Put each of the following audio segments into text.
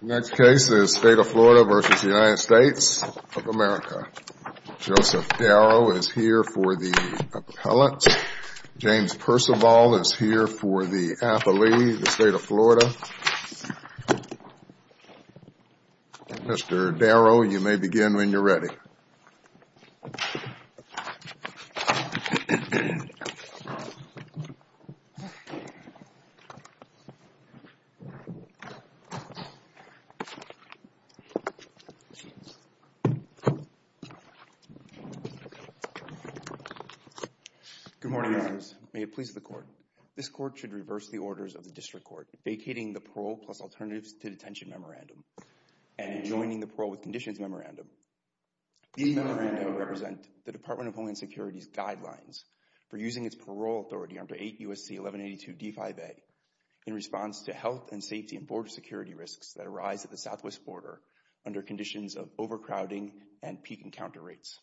The next case is State of Florida v. United States of America. Joseph Darrow is here for the appellate. James Percival is here for the athlete, the State of Florida. Mr. Darrow, you may begin when you're ready. Good morning, Your Honors. May it please the Court, this Court should reverse the orders of the District Court vacating the Parole plus Alternatives to Detention Memorandum and adjoining the Parole with Conditions Memorandum. These memoranda represent the Department of Homeland Security's guidelines for using its parole authority under 8 U.S.C. 1182 D-5A in response to health and safety and border security risks that arise at the southwest border under conditions of overcrowding and peak encounter rates.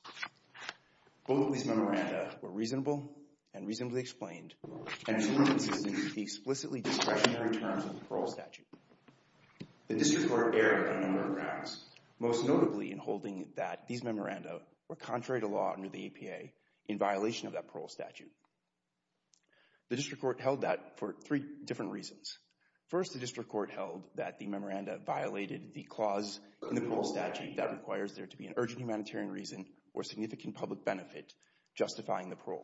Both of these memoranda were reasonable and reasonably explained and consistent with the parole statute. The District Court erred on a number of grounds, most notably in holding that these memoranda were contrary to law under the APA in violation of that parole statute. The District Court held that for three different reasons. First, the District Court held that the memoranda violated the clause in the parole statute that requires there to be an urgent humanitarian reason or significant public benefit justifying the parole.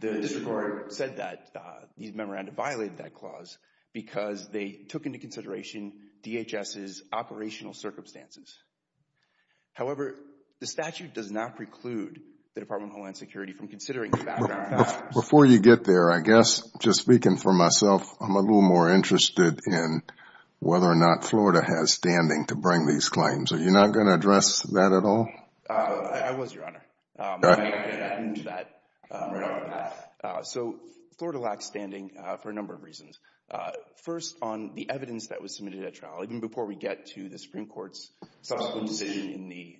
The District Court said that these memoranda violated that clause because they took into consideration DHS's operational circumstances. However, the statute does not preclude the Department of Homeland Security from considering the background factors. Just speaking for myself, I am a little more interested in whether or not Florida has standing to bring these claims. Are you not going to address that at all? I was, Your Honor. I'm going to add to that. So Florida lacks standing for a number of reasons. First, on the evidence that was submitted at trial, even before we get to the Supreme Court's subsequent decision in the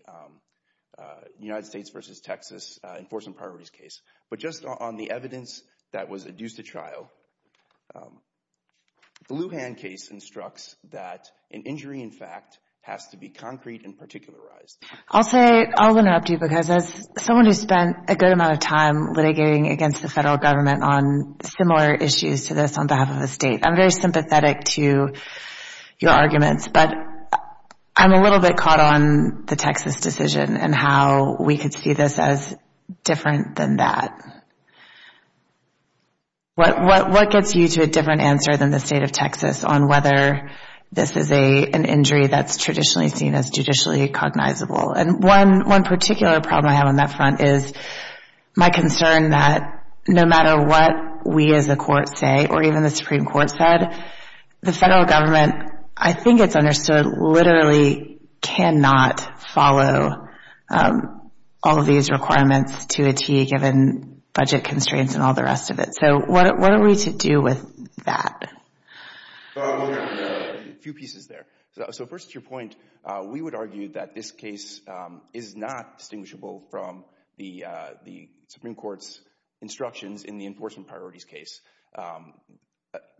United States v. Texas Enforcement Priorities case. But just on the evidence that was adduced at trial, the Lujan case instructs that an injury, in fact, has to be concrete and particularized. I'll say, I'll interrupt you because as someone who spent a good amount of time litigating against the federal government on similar issues to this on behalf of the state, I'm very sympathetic to your arguments, but I'm a little bit caught on the Texas decision and how we could see this as different than that. What gets you to a different answer than the state of Texas on whether this is an injury that's traditionally seen as judicially cognizable? One particular problem I have on that front is my concern that no matter what we as a court say or even the Supreme Court said, the federal government, I think it's understood, literally cannot follow all of these requirements to a T given budget constraints and all the rest of it. So what are we to do with that? A few pieces there. So first, to your point, we would argue that this case is not distinguishable from the Supreme Court's instructions in the enforcement priorities case.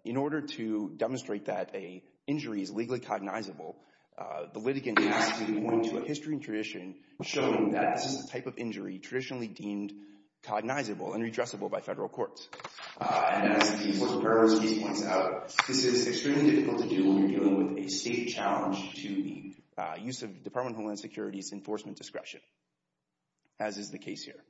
In order to demonstrate that an injury is legally cognizable, the litigant has to point to a history and tradition showing that this is a type of injury traditionally deemed cognizable and redressable by federal courts. And as the enforcement priorities case points out, this is extremely difficult to do when we're dealing with a state challenge to the use of Department of Homeland Security's enforcement discretion, as is the case here.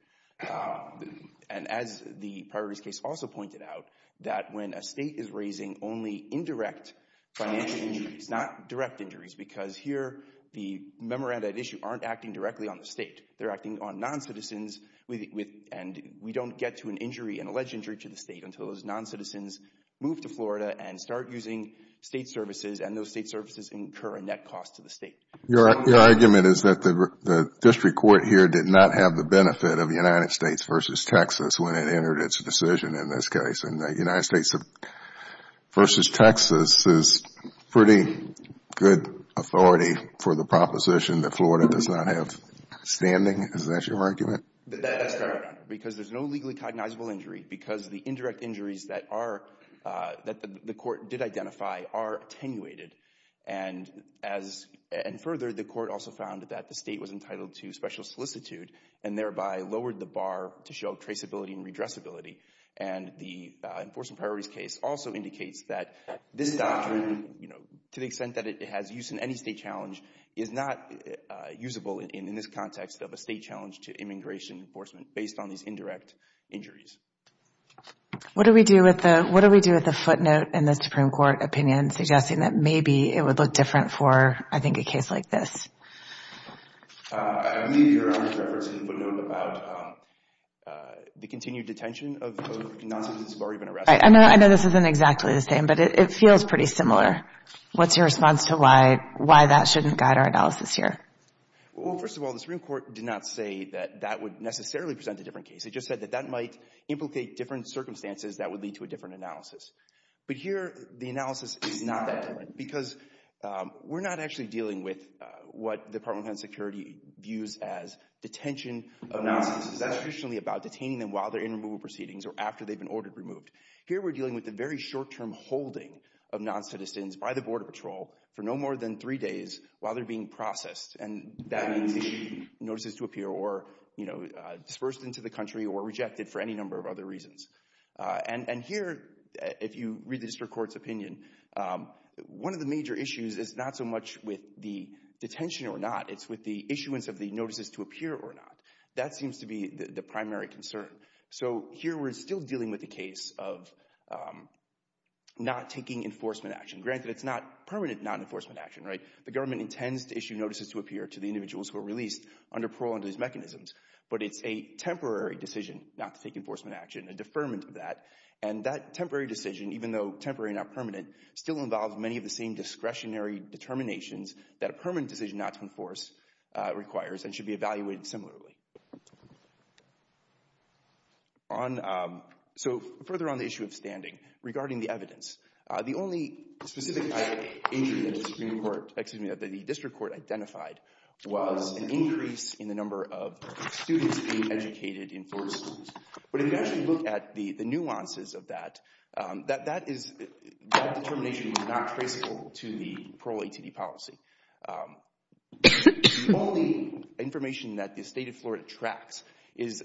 And as the priorities case also pointed out, that when a state is raising only indirect financial injuries, not direct injuries, because here the memoranda at issue aren't acting directly on the state, they're acting on non-citizens and we don't get to an injury, an alleged injury to the state until those non-citizens move to Florida and start using state services and those state services incur a net cost to the state. Your argument is that the district court here did not have the benefit of the United States versus Texas when it entered its decision in this case and the United States versus Texas is pretty good authority for the proposition that Florida does not have standing, is that your argument? That's correct, Your Honor, because there's no legally cognizable injury because the indirect injuries that the court did identify are attenuated. And further, the court also found that the state was entitled to special solicitude and thereby lowered the bar to show traceability and redressability. And the enforcement priorities case also indicates that this doctrine, you know, to the extent that it has use in any state challenge, is not usable in this context of a state challenge to immigration enforcement based on these indirect injuries. What do we do with the footnote in the Supreme Court opinion suggesting that maybe it would look different for, I think, a case like this? I believe Your Honor's reference in the footnote about the continued detention of non-citizens who have already been arrested. I know this isn't exactly the same, but it feels pretty similar. What's your response to why that shouldn't guide our analysis here? Well, first of all, the Supreme Court did not say that that would necessarily present a different case. It just said that that might implicate different circumstances that would lead to a different analysis. But here, the analysis is not that different because we're not actually dealing with what the Department of Homeland Security views as detention of non-citizens. That's traditionally about detaining them while they're in removal proceedings or after they've been ordered removed. Here we're dealing with the very short-term holding of non-citizens by the Border Patrol for no more than three days while they're being processed. And that means issuing notices to appear or, you know, dispersed into the country or rejected for any number of other reasons. And here, if you read the District Court's opinion, one of the major issues is not so much with the detention or not, it's with the issuance of the notices to appear or not. That seems to be the primary concern. So here we're still dealing with the case of not taking enforcement action. Granted, it's not permanent non-enforcement action, right? The government intends to issue notices to appear to the individuals who are released under parole under these mechanisms. But it's a temporary decision not to take enforcement action, a deferment of that. And that temporary decision, even though temporary and not permanent, still involves many of the same discretionary determinations that a permanent decision not to enforce requires and should be evaluated similarly. So further on the issue of standing, regarding the evidence. The only specific injury that the Supreme Court, excuse me, that the District Court identified was an increase in the number of students being educated in four schools. But if you actually look at the nuances of that, that is, that determination is not traceable to the parole ATD policy. The only information that the State of Florida tracks is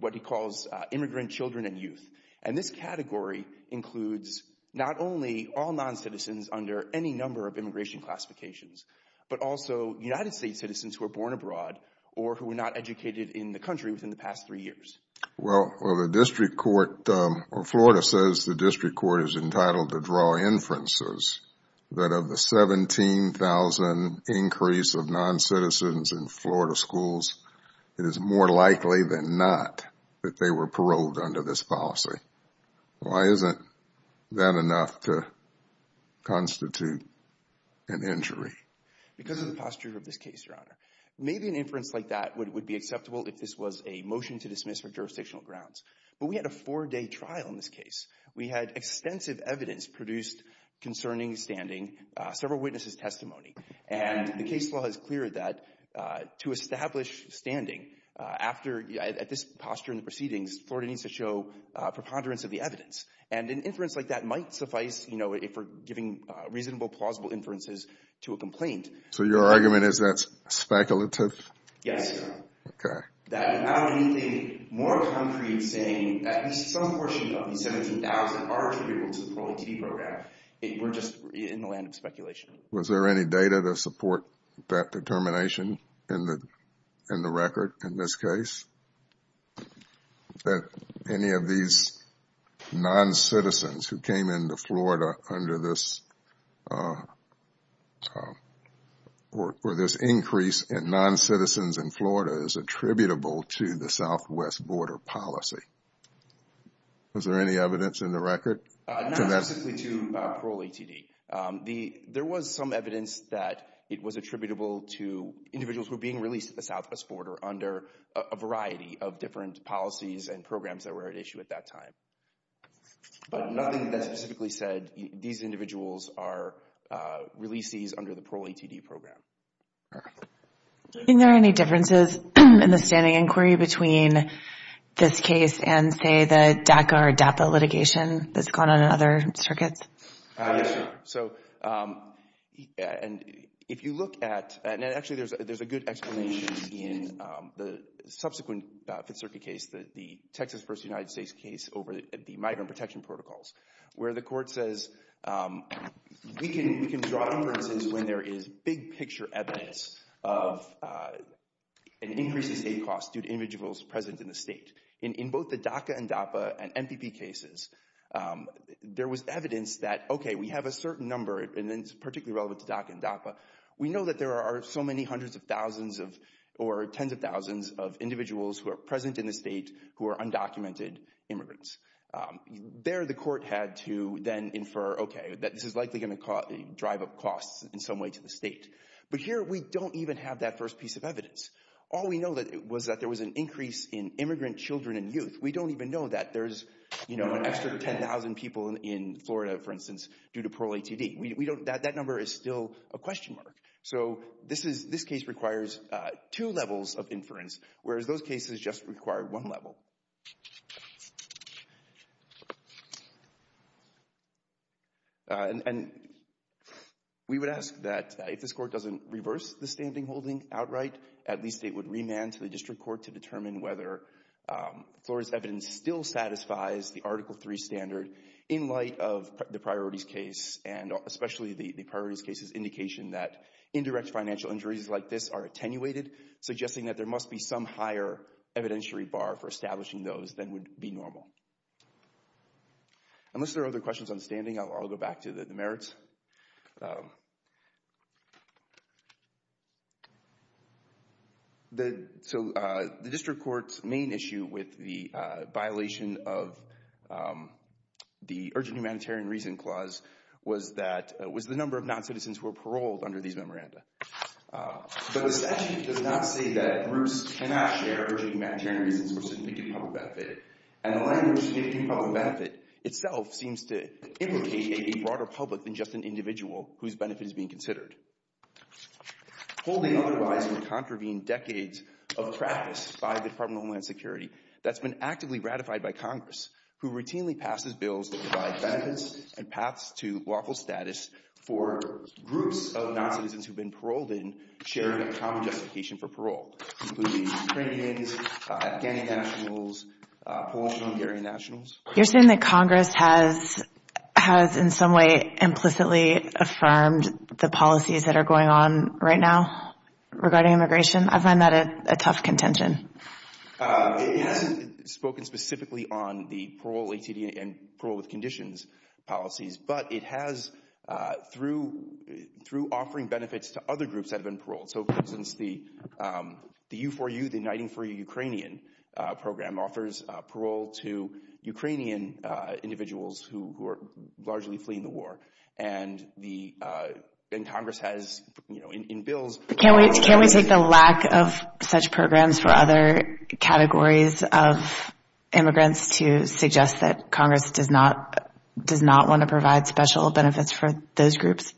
what it calls immigrant children and youth. And this category includes not only all non-citizens under any number of immigration classifications, but also United States citizens who are born abroad or who were not educated in the country within the past three years. Well, the District Court, or Florida says the District Court is entitled to draw inferences that of the 17,000 increase of non-citizens in Florida schools, it is more likely than not that they were paroled under this policy. Why isn't that enough to constitute an injury? Because of the posture of this case, Your Honor. Maybe an inference like that would be acceptable if this was a motion to dismiss for jurisdictional grounds. But we had a four-day trial in this case. We had extensive evidence produced concerning standing, several witnesses' testimony. And the case law has cleared that to establish standing at this posture in the proceedings, Florida needs to show a preponderance of the evidence. And an inference like that might suffice, you know, if we're giving reasonable, plausible inferences to a complaint. So your argument is that's speculative? Yes, Your Honor. Okay. That without anything more concrete saying that at least some portion of the 17,000 are eligible to the parole ATD program, we're just in the land of speculation. Was there any data to support that determination in the record in this case, that any of these non-citizens who came into Florida under this, or this increase in non-citizens in Florida is attributable to the Southwest border policy? Was there any evidence in the record? Not specifically to parole ATD. The, there was some evidence that it was attributable to individuals who were being released at the Southwest border under a variety of different policies and programs that were at issue at that time. But nothing that specifically said these individuals are releasees under the parole ATD program. In there any differences in the standing inquiry between this case and, say, the DACA or DAPA litigation that's gone on in other circuits? Yes, Your Honor. So, and if you look at, and actually there's a good explanation in the subsequent Fifth Circuit case, the Texas versus United States case over the migrant protection protocols, where the court says we can draw inferences when there is big picture evidence of an increase in state costs due to individuals present in the state. In both the DACA and DAPA and MPP cases, there was evidence that, okay, we have a certain number and it's particularly relevant to DACA and DAPA. We know that there are so many hundreds of thousands of, or tens of thousands of individuals who are present in the state who are undocumented immigrants. There the court had to then infer, okay, that this is likely going to drive up costs in some way to the state. But here we don't even have that first piece of evidence. All we know was that there was an increase in immigrant children and youth. We don't even know that there's, you know, an extra 10,000 people in Florida, for instance, due to parole ATD. We don't, that number is still a question mark. So this is, this case requires two levels of inference, whereas those cases just require one level. And we would ask that if this court doesn't reverse the standing holding outright, at least it would remand to the district court to determine whether Florida's evidence still satisfies the Article III standard in light of the priorities case and especially the priorities case's indication that indirect financial injuries like this are attenuated, suggesting that there must be some higher evidentiary bar for establishing those than would be normal. Unless there are other questions on standing, I'll go back to the merits. So the district court's main issue with the violation of the Urgent Humanitarian Reason Clause was that, was the number of non-citizens who were paroled under these memoranda. But the statute does not say that groups cannot share Urgent Humanitarian Reasons for significant public benefit. And the language significant public benefit itself seems to implicate a broader public than just an individual whose benefit is being considered. Holding otherwise would contravene decades of practice by the Department of Homeland Security that's been actively ratified by Congress, who routinely passes bills that provide benefits and paths to lawful status for groups of non-citizens who've been paroled in sharing a common justification for parole, including Ukrainians, Afghani nationals, Polish and Hungarian nationals. You're saying that Congress has in some way implicitly affirmed the policies that are going on right now regarding immigration? I find that a tough contention. It's spoken specifically on the parole ATD and parole with conditions policies, but it has through offering benefits to other groups that have been paroled. So, for instance, the U4U, the Uniting for Ukrainian program offers parole to Ukrainian individuals who are largely fleeing the war. And the Congress has, you know, in bills. Can we take the lack of such programs for other categories of immigrants to suggest that Congress does not does not want to provide special benefits for those groups?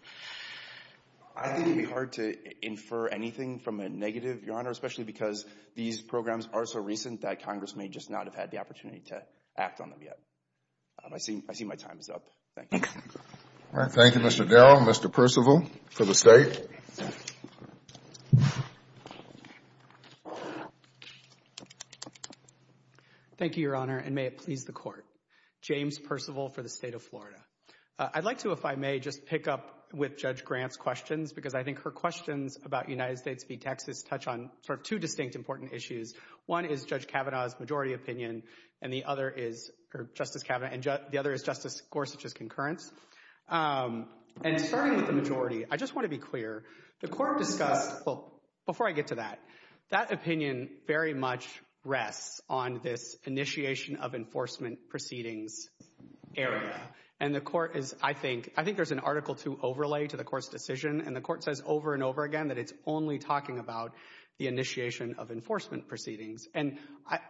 I think it'd be hard to infer anything from a negative, Your Honor, especially because these programs are so recent that Congress may just not have had the opportunity to act on them yet. I see. I see my time is up. Thank you. All right. Thank you, Mr. Dell. Mr. Percival for the state. Thank you, Your Honor. And may it please the court, James Percival for the state of Florida. I'd like to, if I may, just pick up with Judge Grant's questions because I think her questions about United States v. Texas touch on sort of two distinct important issues. One is Judge Kavanaugh's majority opinion and the other is Justice Kavanaugh and the other is Justice Gorsuch's concurrence. And starting with the majority, I just want to be clear. The court discussed, well, before I get to that, that opinion very much rests on this initiation of enforcement proceedings area. And the court is, I think, I think there's an Article II overlay to the court's decision and the court says over and over again that it's only talking about the initiation of enforcement proceedings. And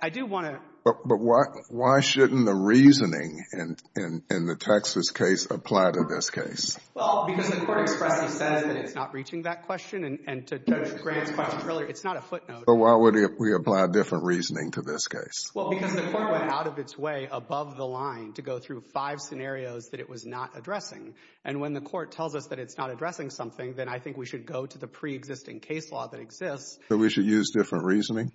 I do want to. But why shouldn't the reasoning in the Texas case apply to this case? Well, because the court expressly says that it's not reaching that question and to Judge Grant's question earlier, it's not a footnote. But why would we apply a different reasoning to this case? Well, because the court went out of its way above the line to go through five scenarios that it was not addressing. And when the court tells us that it's not addressing something, then I think we should go to the pre-existing case law that exists. So we should use different reasoning?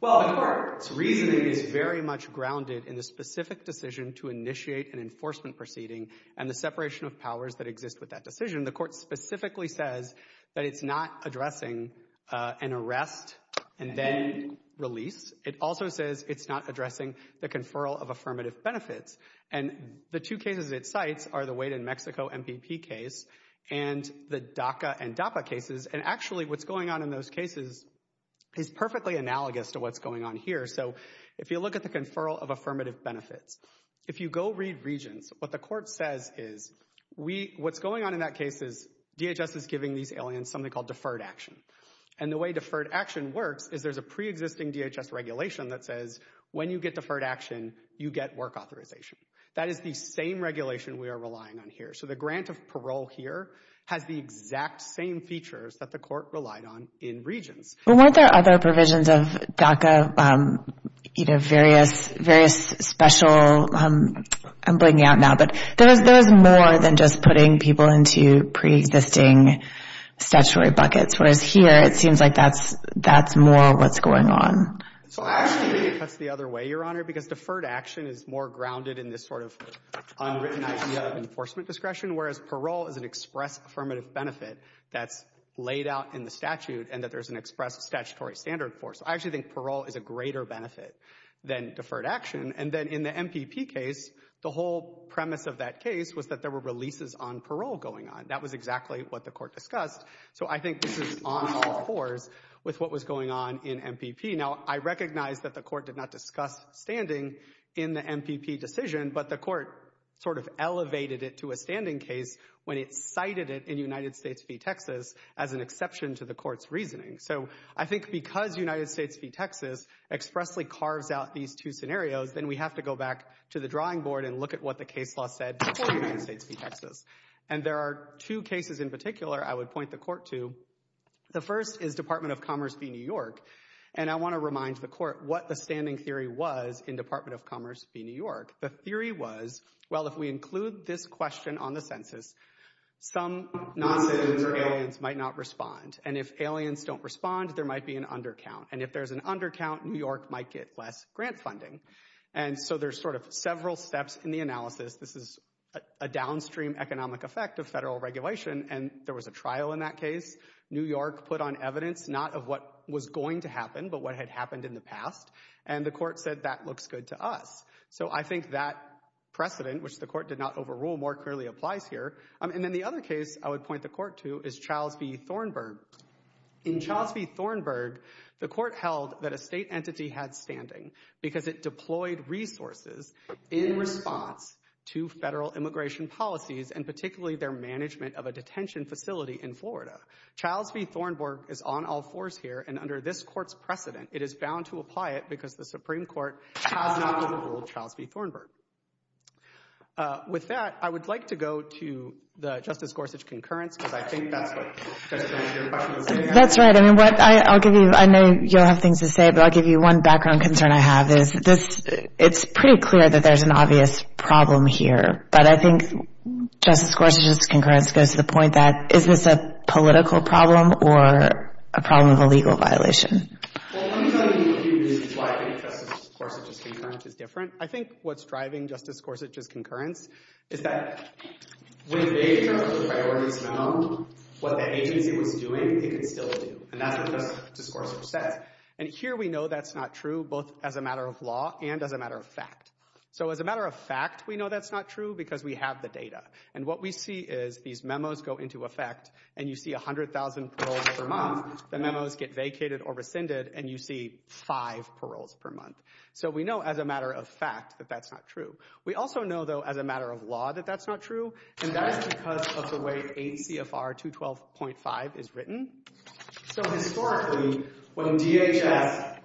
Well, the court's reasoning is very much grounded in the specific decision to initiate an enforcement proceeding and the separation of powers that exist with that decision. The court specifically says that it's not addressing an arrest and then release. It also says it's not addressing the conferral of affirmative benefits. And the two cases it cites are the Wade and Mexico MPP case and the DACA and DAPA cases. And actually what's going on in those cases is perfectly analogous to what's going on here. So if you look at the conferral of affirmative benefits, if you go read Regents, what the court says is what's going on in that case is DHS is giving these aliens something called deferred action. And the way deferred action works is there's a pre-existing DHS regulation that says when you get deferred action, you get work authorization. That is the same regulation we are relying on here. So the grant of parole here has the exact same features that the court relied on in Regents. Well, weren't there other provisions of DACA, you know, various special, I'm blanking out now, but there was more than just putting people into pre-existing statutory buckets, whereas here it seems like that's more what's going on. So actually, I think that's the other way, Your Honor, because deferred action is more grounded in this sort of unwritten idea of enforcement discretion, whereas parole is an express affirmative benefit that's laid out in the statute and that there's an express statutory standard for. So I actually think parole is a greater benefit than deferred action. And then in the MPP case, the whole premise of that case was that there were releases on parole going on. That was exactly what the court discussed. So I think this is on all fours with what was going on in MPP. Now, I recognize that the court did not discuss standing in the MPP decision, but the court sort of elevated it to a standing case when it cited it in United States v. Texas as an exception to the court's reasoning. So I think because United States v. Texas expressly carves out these two scenarios, then we have to go back to the drawing board and look at what the case law said before United States v. Texas. And there are two cases in particular I would point the court to. The first is Department of Commerce v. New York. And I want to remind the court what the standing theory was in Department of Commerce v. New York. The theory was, well, if we include this question on the census, some noncitizens or aliens might not respond. And if aliens don't respond, there might be an undercount. And if there's an undercount, New York might get less grant funding. And so there's sort of several steps in the analysis. This is a downstream economic effect of federal regulation. And there was a trial in that case. New York put on evidence not of what was going to happen, but what had happened in the past. And the court said that looks good to us. So I think that precedent, which the court did not overrule, more clearly applies here. And then the other case I would point the court to is Childs v. Thornburg. In Childs v. Thornburg, the court held that a state entity had standing because it deployed resources in response to federal immigration policies, and particularly their management of a detention facility in Florida. Childs v. Thornburg is on all fours here. And under this court's precedent, it is bound to apply it because the Supreme Court has not overruled Childs v. Thornburg. With that, I would like to go to the Justice Gorsuch concurrence, because I think that's what your question was saying. That's right. I mean, what I'll give you, I know you all have things to say, but I'll give you one background concern I have, is this, it's pretty clear that there's an obvious problem here. But I think Justice Gorsuch's concurrence goes to the point that, is this a political problem or a problem of a legal violation? Well, let me tell you a few reasons why I think Justice Gorsuch's concurrence I think what's driving Justice Gorsuch's concurrence is that when they, in terms of priorities, know what the agency was doing, they can still do. And that's what Justice Gorsuch says. And here we know that's not true, both as a matter of law and as a matter of fact. So as a matter of fact, we know that's not true because we have the data. And what we see is, these memos go into effect, and you see 100,000 paroles per month. The memos get vacated or rescinded, and you see five paroles per month. So we know as a matter of fact that that's not true. We also know, though, as a matter of law, that that's not true, and that is because of the way 8 CFR 212.5 is written. So historically, when DHS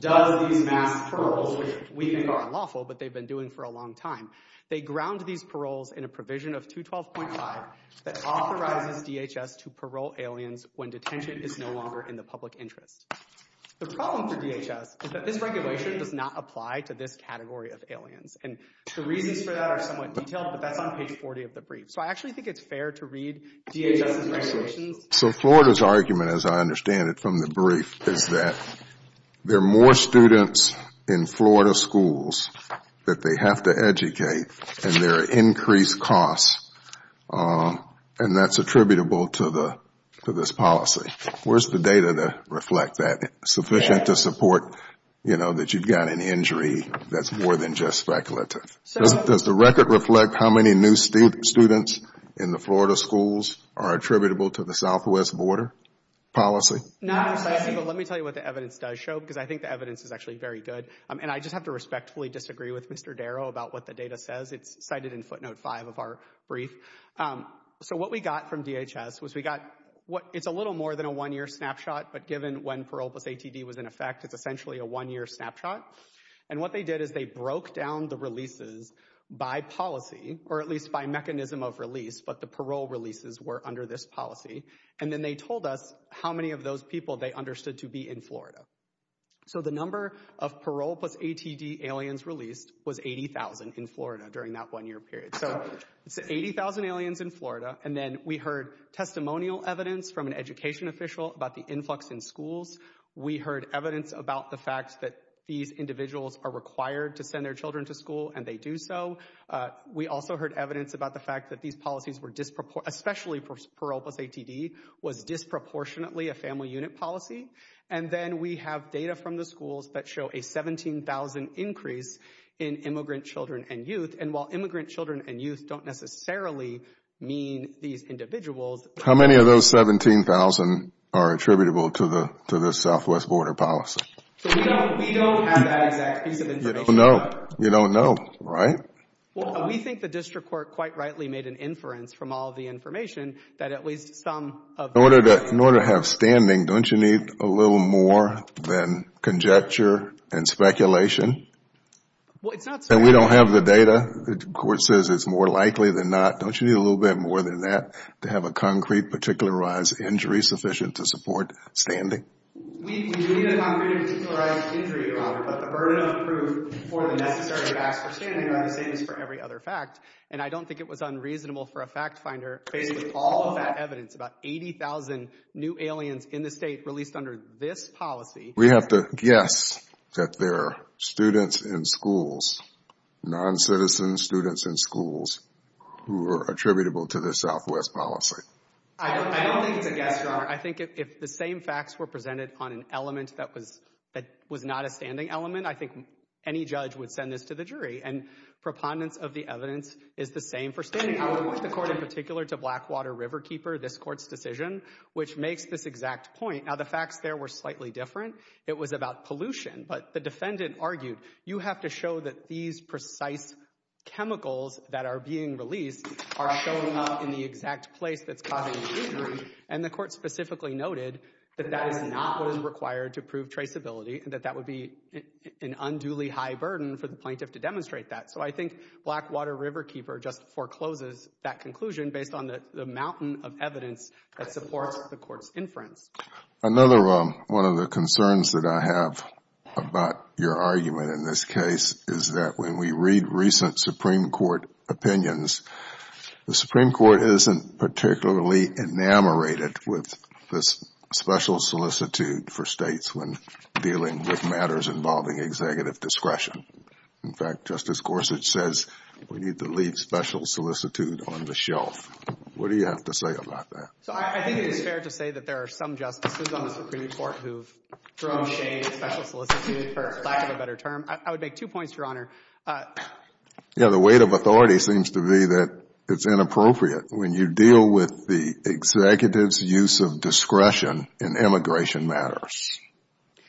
does these mass paroles, which we think are unlawful, but they've been doing for a long time, they ground these paroles in a provision of 212.5 that authorizes DHS to parole aliens when detention is no longer in the public interest. The problem for DHS is that this regulation does not apply to this category of aliens. And the reasons for that are somewhat detailed, but that's on page 40 of the brief. So Florida's argument, as I understand it from the brief, is that there are more students in Florida schools that they have to educate, and there are increased costs, and that's attributable to this policy. Where's the data to reflect that? It's sufficient to support that you've got an injury that's more than just speculative. Does the record reflect how many new students in the Florida schools are attributable to the Southwest border policy? Not precisely, but let me tell you what the evidence does show, because I think the evidence is actually very good. And I just have to respectfully disagree with Mr. Darrow about what the data says. It's cited in footnote 5 of our brief. So what we got from DHS was we got, it's a little more than a one-year snapshot, but given when parole plus ATD was in effect, it's essentially a one-year snapshot. And what they did is they broke down the releases by policy, or at least by mechanism of release, but the parole releases were under this policy. And then they told us how many of those people they understood to be in Florida. So the number of parole plus ATD aliens released was 80,000 in Florida during that one-year period. So it's 80,000 aliens in Florida, and then we heard testimonial evidence from an education official about the influx in schools. We heard evidence about the fact that these individuals are required to send their children to school, and they do so. We also heard evidence about the fact that these policies were, especially for parole plus ATD, was disproportionately a family unit policy. And then we have data from the schools that show a 17,000 increase in immigrant children and youth. And while immigrant children and youth don't necessarily mean these individuals. How many of those 17,000 are attributable to the Southwest border policy? We don't have that exact piece of information. You don't know. You don't know, right? Well, we think the district court quite rightly made an inference from all of the information that at least some of the- In order to have standing, don't you need a little more than conjecture and speculation? Well, it's not- And we don't have the data. The court says it's more likely than not. Don't you need a little bit more than that to have a concrete, particularized injury sufficient to support standing? We do need a concrete, particularized injury, Robert, but the burden of proof for the necessary facts for standing are the same as for every other fact. And I don't think it was unreasonable for a fact finder, based on all of that evidence, about 80,000 new aliens in the state released under this policy- We have to guess that they're students in schools, non-citizen students in schools, who are attributable to the Southwest policy. I don't think it's a guess, Robert. I think if the same facts were presented on an element that was not a standing element, I think any judge would send this to the jury. And prepondence of the evidence is the same for standing. I would point the court in particular to Blackwater Riverkeeper, this court's decision, which makes this exact point. Now, the facts there were slightly different. It was about pollution, but the defendant argued, you have to show that these precise chemicals that are being released are showing up in the exact place that's causing the injury. And the court specifically noted that that is not what is required to prove traceability, and that that would be an unduly high burden for the plaintiff to demonstrate that. So I think Blackwater Riverkeeper just forecloses that conclusion based on the mountain of evidence that supports the court's inference. Another one of the concerns that I have about your argument in this case is that when we read recent Supreme Court opinions, the Supreme Court isn't particularly enamorated with this special solicitude for states when dealing with matters involving executive discretion. In fact, Justice Gorsuch says we need to leave special solicitude on the shelf. What do you have to say about that? So I think it is fair to say that there are some justices on the Supreme Court who have thrown shade at special solicitude, for lack of a better term. I would make two points, Your Honor. Yeah, the weight of authority seems to be that it's inappropriate when you deal with the executive's use of discretion in immigration matters.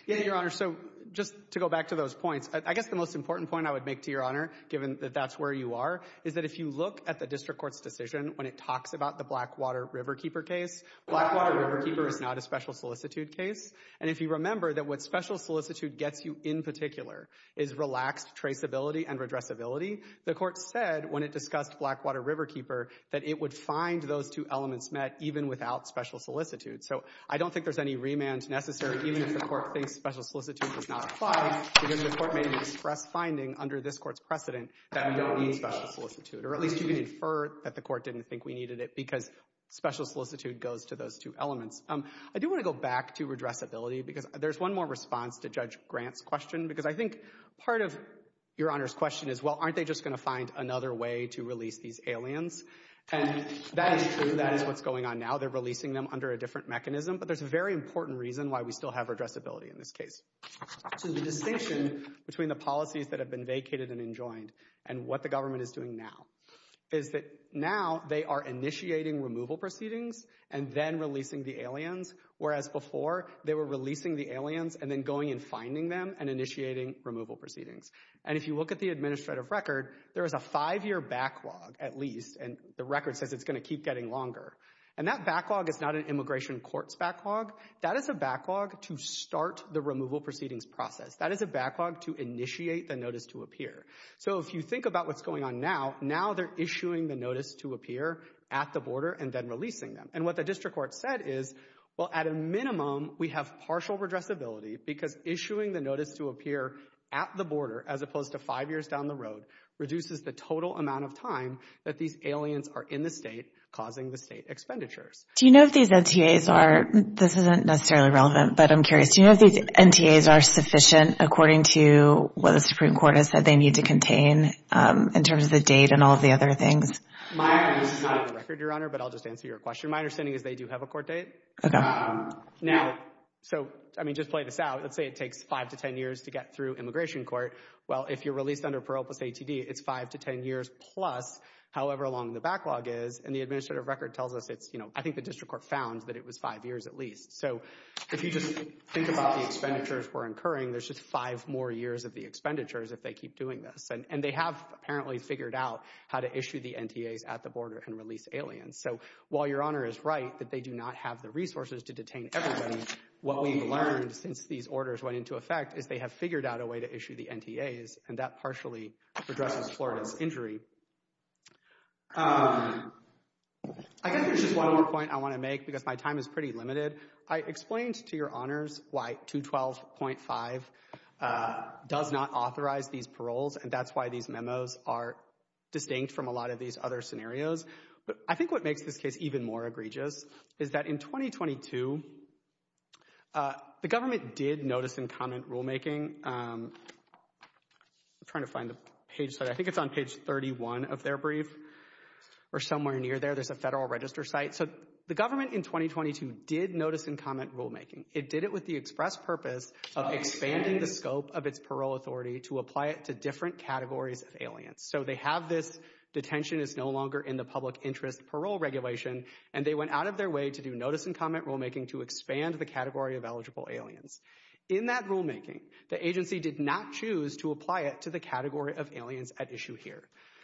Yeah, Your Honor, so just to go back to those points, I guess the most important point I would make to Your Honor, given that that's where you are, is that if you look at the district court's decision when it talks about the Blackwater Riverkeeper case, Blackwater Riverkeeper is not a special solicitude case. And if you remember that what special solicitude gets you in particular is relaxed traceability and redressability, the Court said when it discussed Blackwater Riverkeeper that it would find those two elements met even without special solicitude. So I don't think there's any remand necessary even if the Court thinks special solicitude does not apply because the Court made an express finding under this Court's precedent that we don't need special solicitude, or at least you can infer that the Court didn't think we needed it because special solicitude goes to those two elements. I do want to go back to redressability because there's one more response to Judge Grant's question because I think part of Your Honor's question is, well, aren't they just going to find another way to release these aliens? And that is true. That is what's going on now. They're releasing them under a different mechanism, but there's a very important reason why we still have redressability in this case. So the distinction between the policies that have been vacated and enjoined and what the government is doing now is that now they are initiating removal proceedings and then releasing the aliens, whereas before they were releasing the aliens and then going and finding them and initiating removal proceedings. And if you look at the administrative record, there is a five-year backlog at least, and the record says it's going to keep getting longer. And that backlog is not an immigration court's backlog. That is a backlog to start the removal proceedings process. That is a backlog to initiate the notice to appear. So if you think about what's going on now, now they're issuing the notice to appear at the border and then releasing them. And what the district court said is, well, at a minimum, we have partial redressability because issuing the notice to appear at the border as opposed to five years down the road reduces the total amount of time that these aliens are in the state causing the state expenditures. Do you know if these NTAs are—this isn't necessarily relevant, but I'm curious. Do you know if these NTAs are sufficient according to what the Supreme Court has said they need to contain in terms of the date and all of the other things? My understanding—this is not on the record, Your Honor, but I'll just answer your question. My understanding is they do have a court date. Now, so, I mean, just play this out. Let's say it takes five to ten years to get through immigration court. Well, if you're released under parole plus ATD, it's five to ten years plus however long the backlog is. And the administrative record tells us it's— I think the district court found that it was five years at least. So if you just think about the expenditures we're incurring, there's just five more years of the expenditures if they keep doing this. And they have apparently figured out how to issue the NTAs at the border and release aliens. So while Your Honor is right that they do not have the resources to detain everybody, what we've learned since these orders went into effect is they have figured out a way to issue the NTAs, and that partially addresses Florida's injury. I think there's just one more point I want to make because my time is pretty limited. I explained to Your Honors why 212.5 does not authorize these paroles, and that's why these memos are distinct from a lot of these other scenarios. But I think what makes this case even more egregious is that in 2022, the government did notice and comment rulemaking. I'm trying to find the page. I think it's on page 31 of their brief or somewhere near there. There's a Federal Register site. So the government in 2022 did notice and comment rulemaking. It did it with the express purpose of expanding the scope of its parole authority to apply it to different categories of aliens. So they have this detention is no longer in the public interest parole regulation, and they went out of their way to do notice and comment rulemaking to expand the category of eligible aliens. In that rulemaking, the agency did not choose to apply it to the category of aliens at issue here.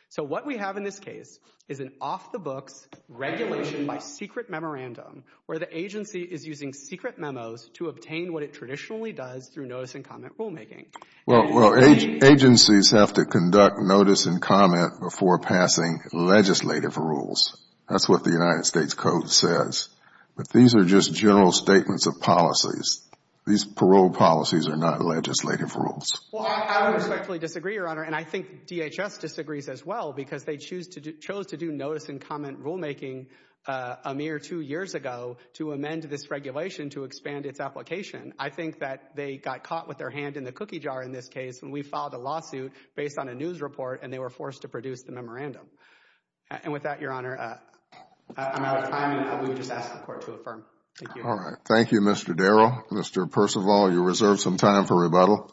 So what we have in this case is an off-the-books regulation by secret memorandum where the agency is using secret memos to obtain what it traditionally does through notice and comment rulemaking. Well, agencies have to conduct notice and comment before passing legislative rules. That's what the United States Code says. But these are just general statements of policies. These parole policies are not legislative rules. Well, I would respectfully disagree, Your Honor, and I think DHS disagrees as well because they chose to do notice and comment rulemaking a mere two years ago to amend this regulation to expand its application. I think that they got caught with their hand in the cookie jar in this case when we filed a lawsuit based on a news report, and they were forced to produce the memorandum. And with that, Your Honor, I'm out of time, and we would just ask the Court to affirm. Thank you. All right. Thank you, Mr. Darrow. Mr. Percival, you reserve some time for rebuttal.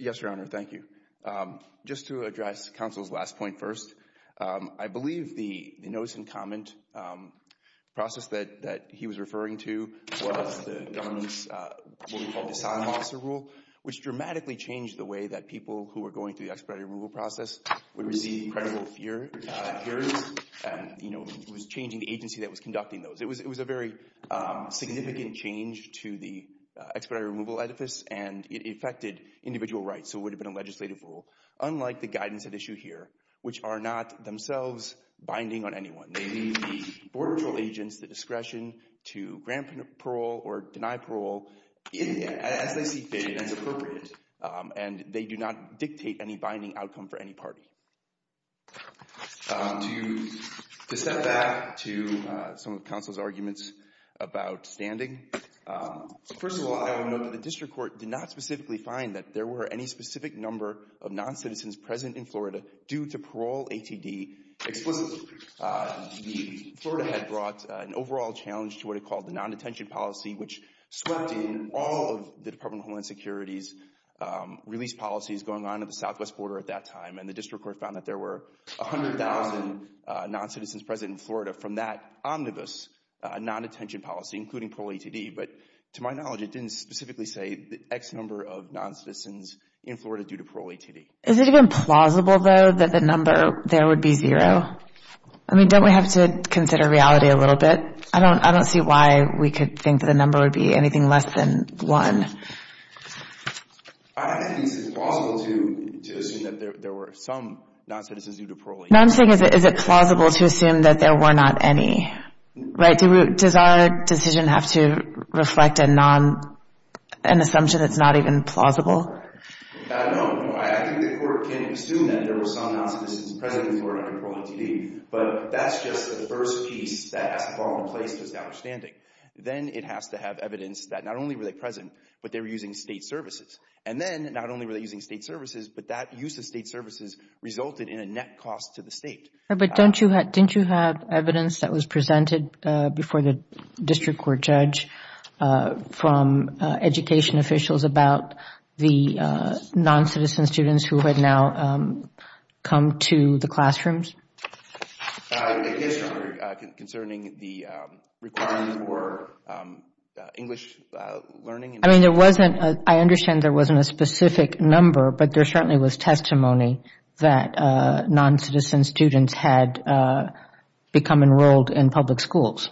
Yes, Your Honor, thank you. Just to address counsel's last point first, I believe the notice and comment process that he was referring to was the government's what we call dishonor officer rule, which dramatically changed the way that people who were going through the expedited removal process would receive credible fears. You know, it was changing the agency that was conducting those. It was a very significant change to the expedited removal edifice, and it affected individual rights. So it would have been a legislative rule, unlike the guidance at issue here, which are not themselves binding on anyone. They leave the border patrol agents the discretion to grant parole or deny parole as they see fit and as appropriate, and they do not dictate any binding outcome for any party. To step back to some of counsel's arguments about standing, first of all, I would note that the district court did not specifically find that there were any specific number of non-citizens present in Florida due to parole ATD explicitly. Florida had brought an overall challenge to what it called the non-detention policy, which swept in all of the Department of Homeland Security's release policies going on at the southwest border at that time, and the district court found that there were 100,000 non-citizens present in Florida from that omnibus non-detention policy, including parole ATD. But to my knowledge, it didn't specifically say the X number of non-citizens in Florida due to parole ATD. Is it even plausible, though, that the number there would be zero? I mean, don't we have to consider reality a little bit? I don't see why we could think the number would be anything less than one. I think it's plausible to assume that there were some non-citizens due to parole. No, I'm saying is it plausible to assume that there were not any, right? Does our decision have to reflect an assumption that's not even plausible? No. I think the court can assume that there were some non-citizens present in Florida due to parole ATD, but that's just the first piece that has to fall into place to its understanding. Then it has to have evidence that not only were they present, but they were using state services. And then not only were they using state services, but that use of state services resulted in a net cost to the state. But didn't you have evidence that was presented before the district court judge from education officials about the non-citizen students who had now come to the classrooms? Yes, Your Honor, concerning the requirement for English learning. I mean, there wasn't, I understand there wasn't a specific number, but there certainly was testimony that non-citizen students had become enrolled in public schools.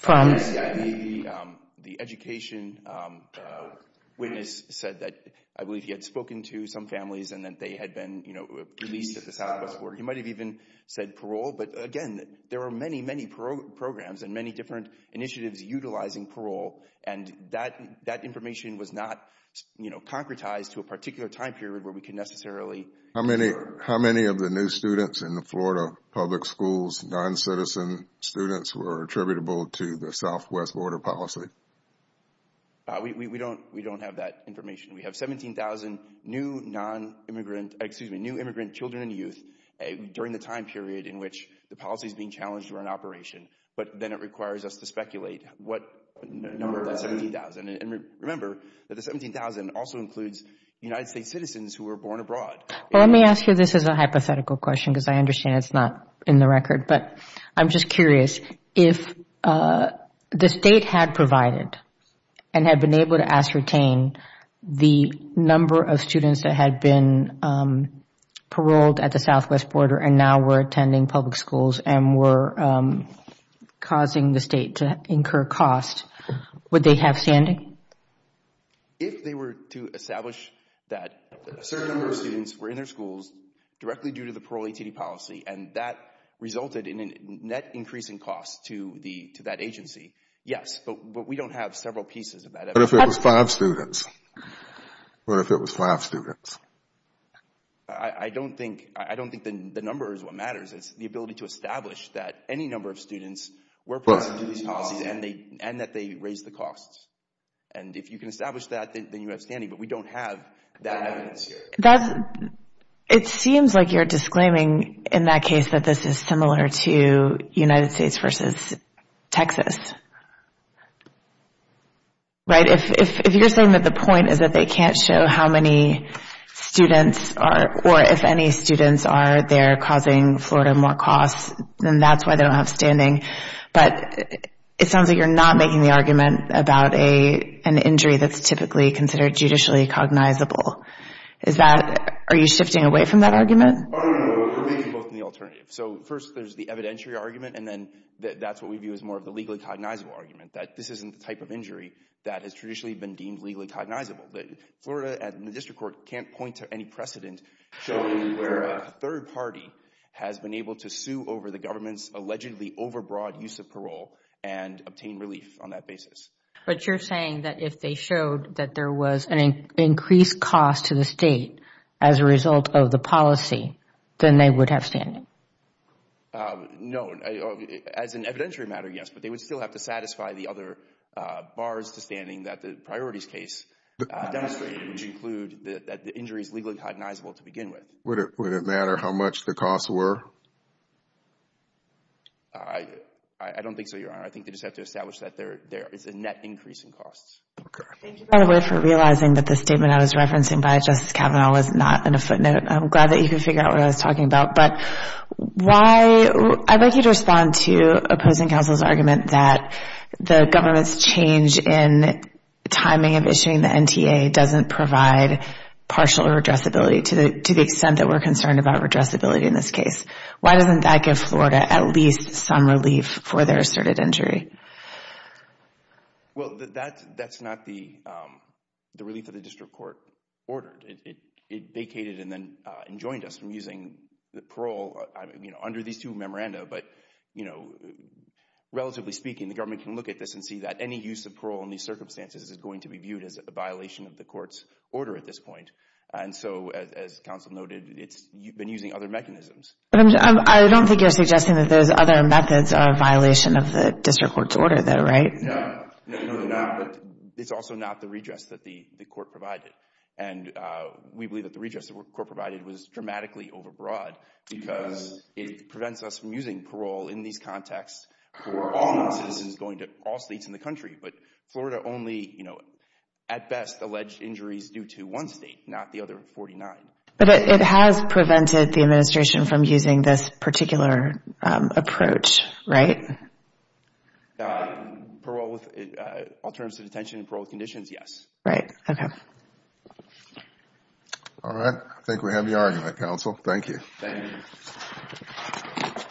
The education witness said that I believe he had spoken to some families and that they had been, you know, released at the Southwest Board. He might have even said parole, but again, there are many, many programs and many different initiatives utilizing parole, and that information was not, you know, concretized to a particular time period where we can necessarily. How many of the new students in the Florida public schools, non-citizen students were attributable to the Southwest Board of Policy? We don't have that information. We have 17,000 new non-immigrant, excuse me, new immigrant children and youth during the time period in which the policy is being challenged or in operation. But then it requires us to speculate what number, 17,000, and remember that the 17,000 also includes United States citizens who were born abroad. Well, let me ask you this as a hypothetical question because I understand it's not in the record, but I'm just curious. If the State had provided and had been able to ascertain the number of students that had been paroled at the Southwest border and now were attending public schools and were causing the State to incur costs, would they have standing? If they were to establish that a certain number of students were in their schools directly due to the parole ATD policy and that resulted in a net increase in costs to that agency, yes. But we don't have several pieces of that. What if it was five students? I don't think the number is what matters. It's the ability to establish that any number of students were part of these policies and that they raised the costs. And if you can establish that, then you have standing. But we don't have that evidence here. It seems like you're disclaiming in that case that this is similar to United States versus Texas, right? If you're saying that the point is that they can't show how many students are or if any students are there causing Florida more costs, then that's why they don't have standing. But it sounds like you're not making the argument about an injury that's typically considered judicially cognizable. Are you shifting away from that argument? No, no, no. We're thinking both in the alternative. So first there's the evidentiary argument, and then that's what we view as more of the legally cognizable argument, that this isn't the type of injury that has traditionally been deemed legally cognizable, that Florida and the district court can't point to any precedent showing where a third party has been able to sue over the government's allegedly overbroad use of parole and obtain relief on that basis. But you're saying that if they showed that there was an increased cost to the state as a result of the policy, then they would have standing? No. As an evidentiary matter, yes. But they would still have to satisfy the other bars to standing that the priorities case demonstrated, which include that the injury is legally cognizable to begin with. Would it matter how much the costs were? I don't think so, Your Honor. I think they just have to establish that there is a net increase in costs. Thank you for realizing that the statement I was referencing by Justice Kavanaugh was not in a footnote. I'm glad that you could figure out what I was talking about. I'd like you to respond to opposing counsel's argument that the government's change in timing of issuing the NTA doesn't provide partial redressability to the extent that we're concerned about redressability in this case. Why doesn't that give Florida at least some relief for their asserted injury? Well, that's not the relief that the district court ordered. It vacated and then enjoined us from using the parole under these two memoranda. But, you know, relatively speaking, the government can look at this and see that any use of parole in these circumstances is going to be viewed as a violation of the court's order at this point. And so, as counsel noted, it's been using other mechanisms. I don't think you're suggesting that there's other methods of violation of the district court's order though, right? No, no, they're not. But it's also not the redress that the court provided. And we believe that the redress that the court provided was dramatically overbroad because it prevents us from using parole in these contexts for all citizens going to all states in the country. But Florida only, you know, at best, alleged injuries due to one state, not the other 49. But it has prevented the administration from using this particular approach, right? Parole with alternative detention and parole with conditions, yes. Right, okay. All right, I think we have the argument, counsel. Thank you. Thank you.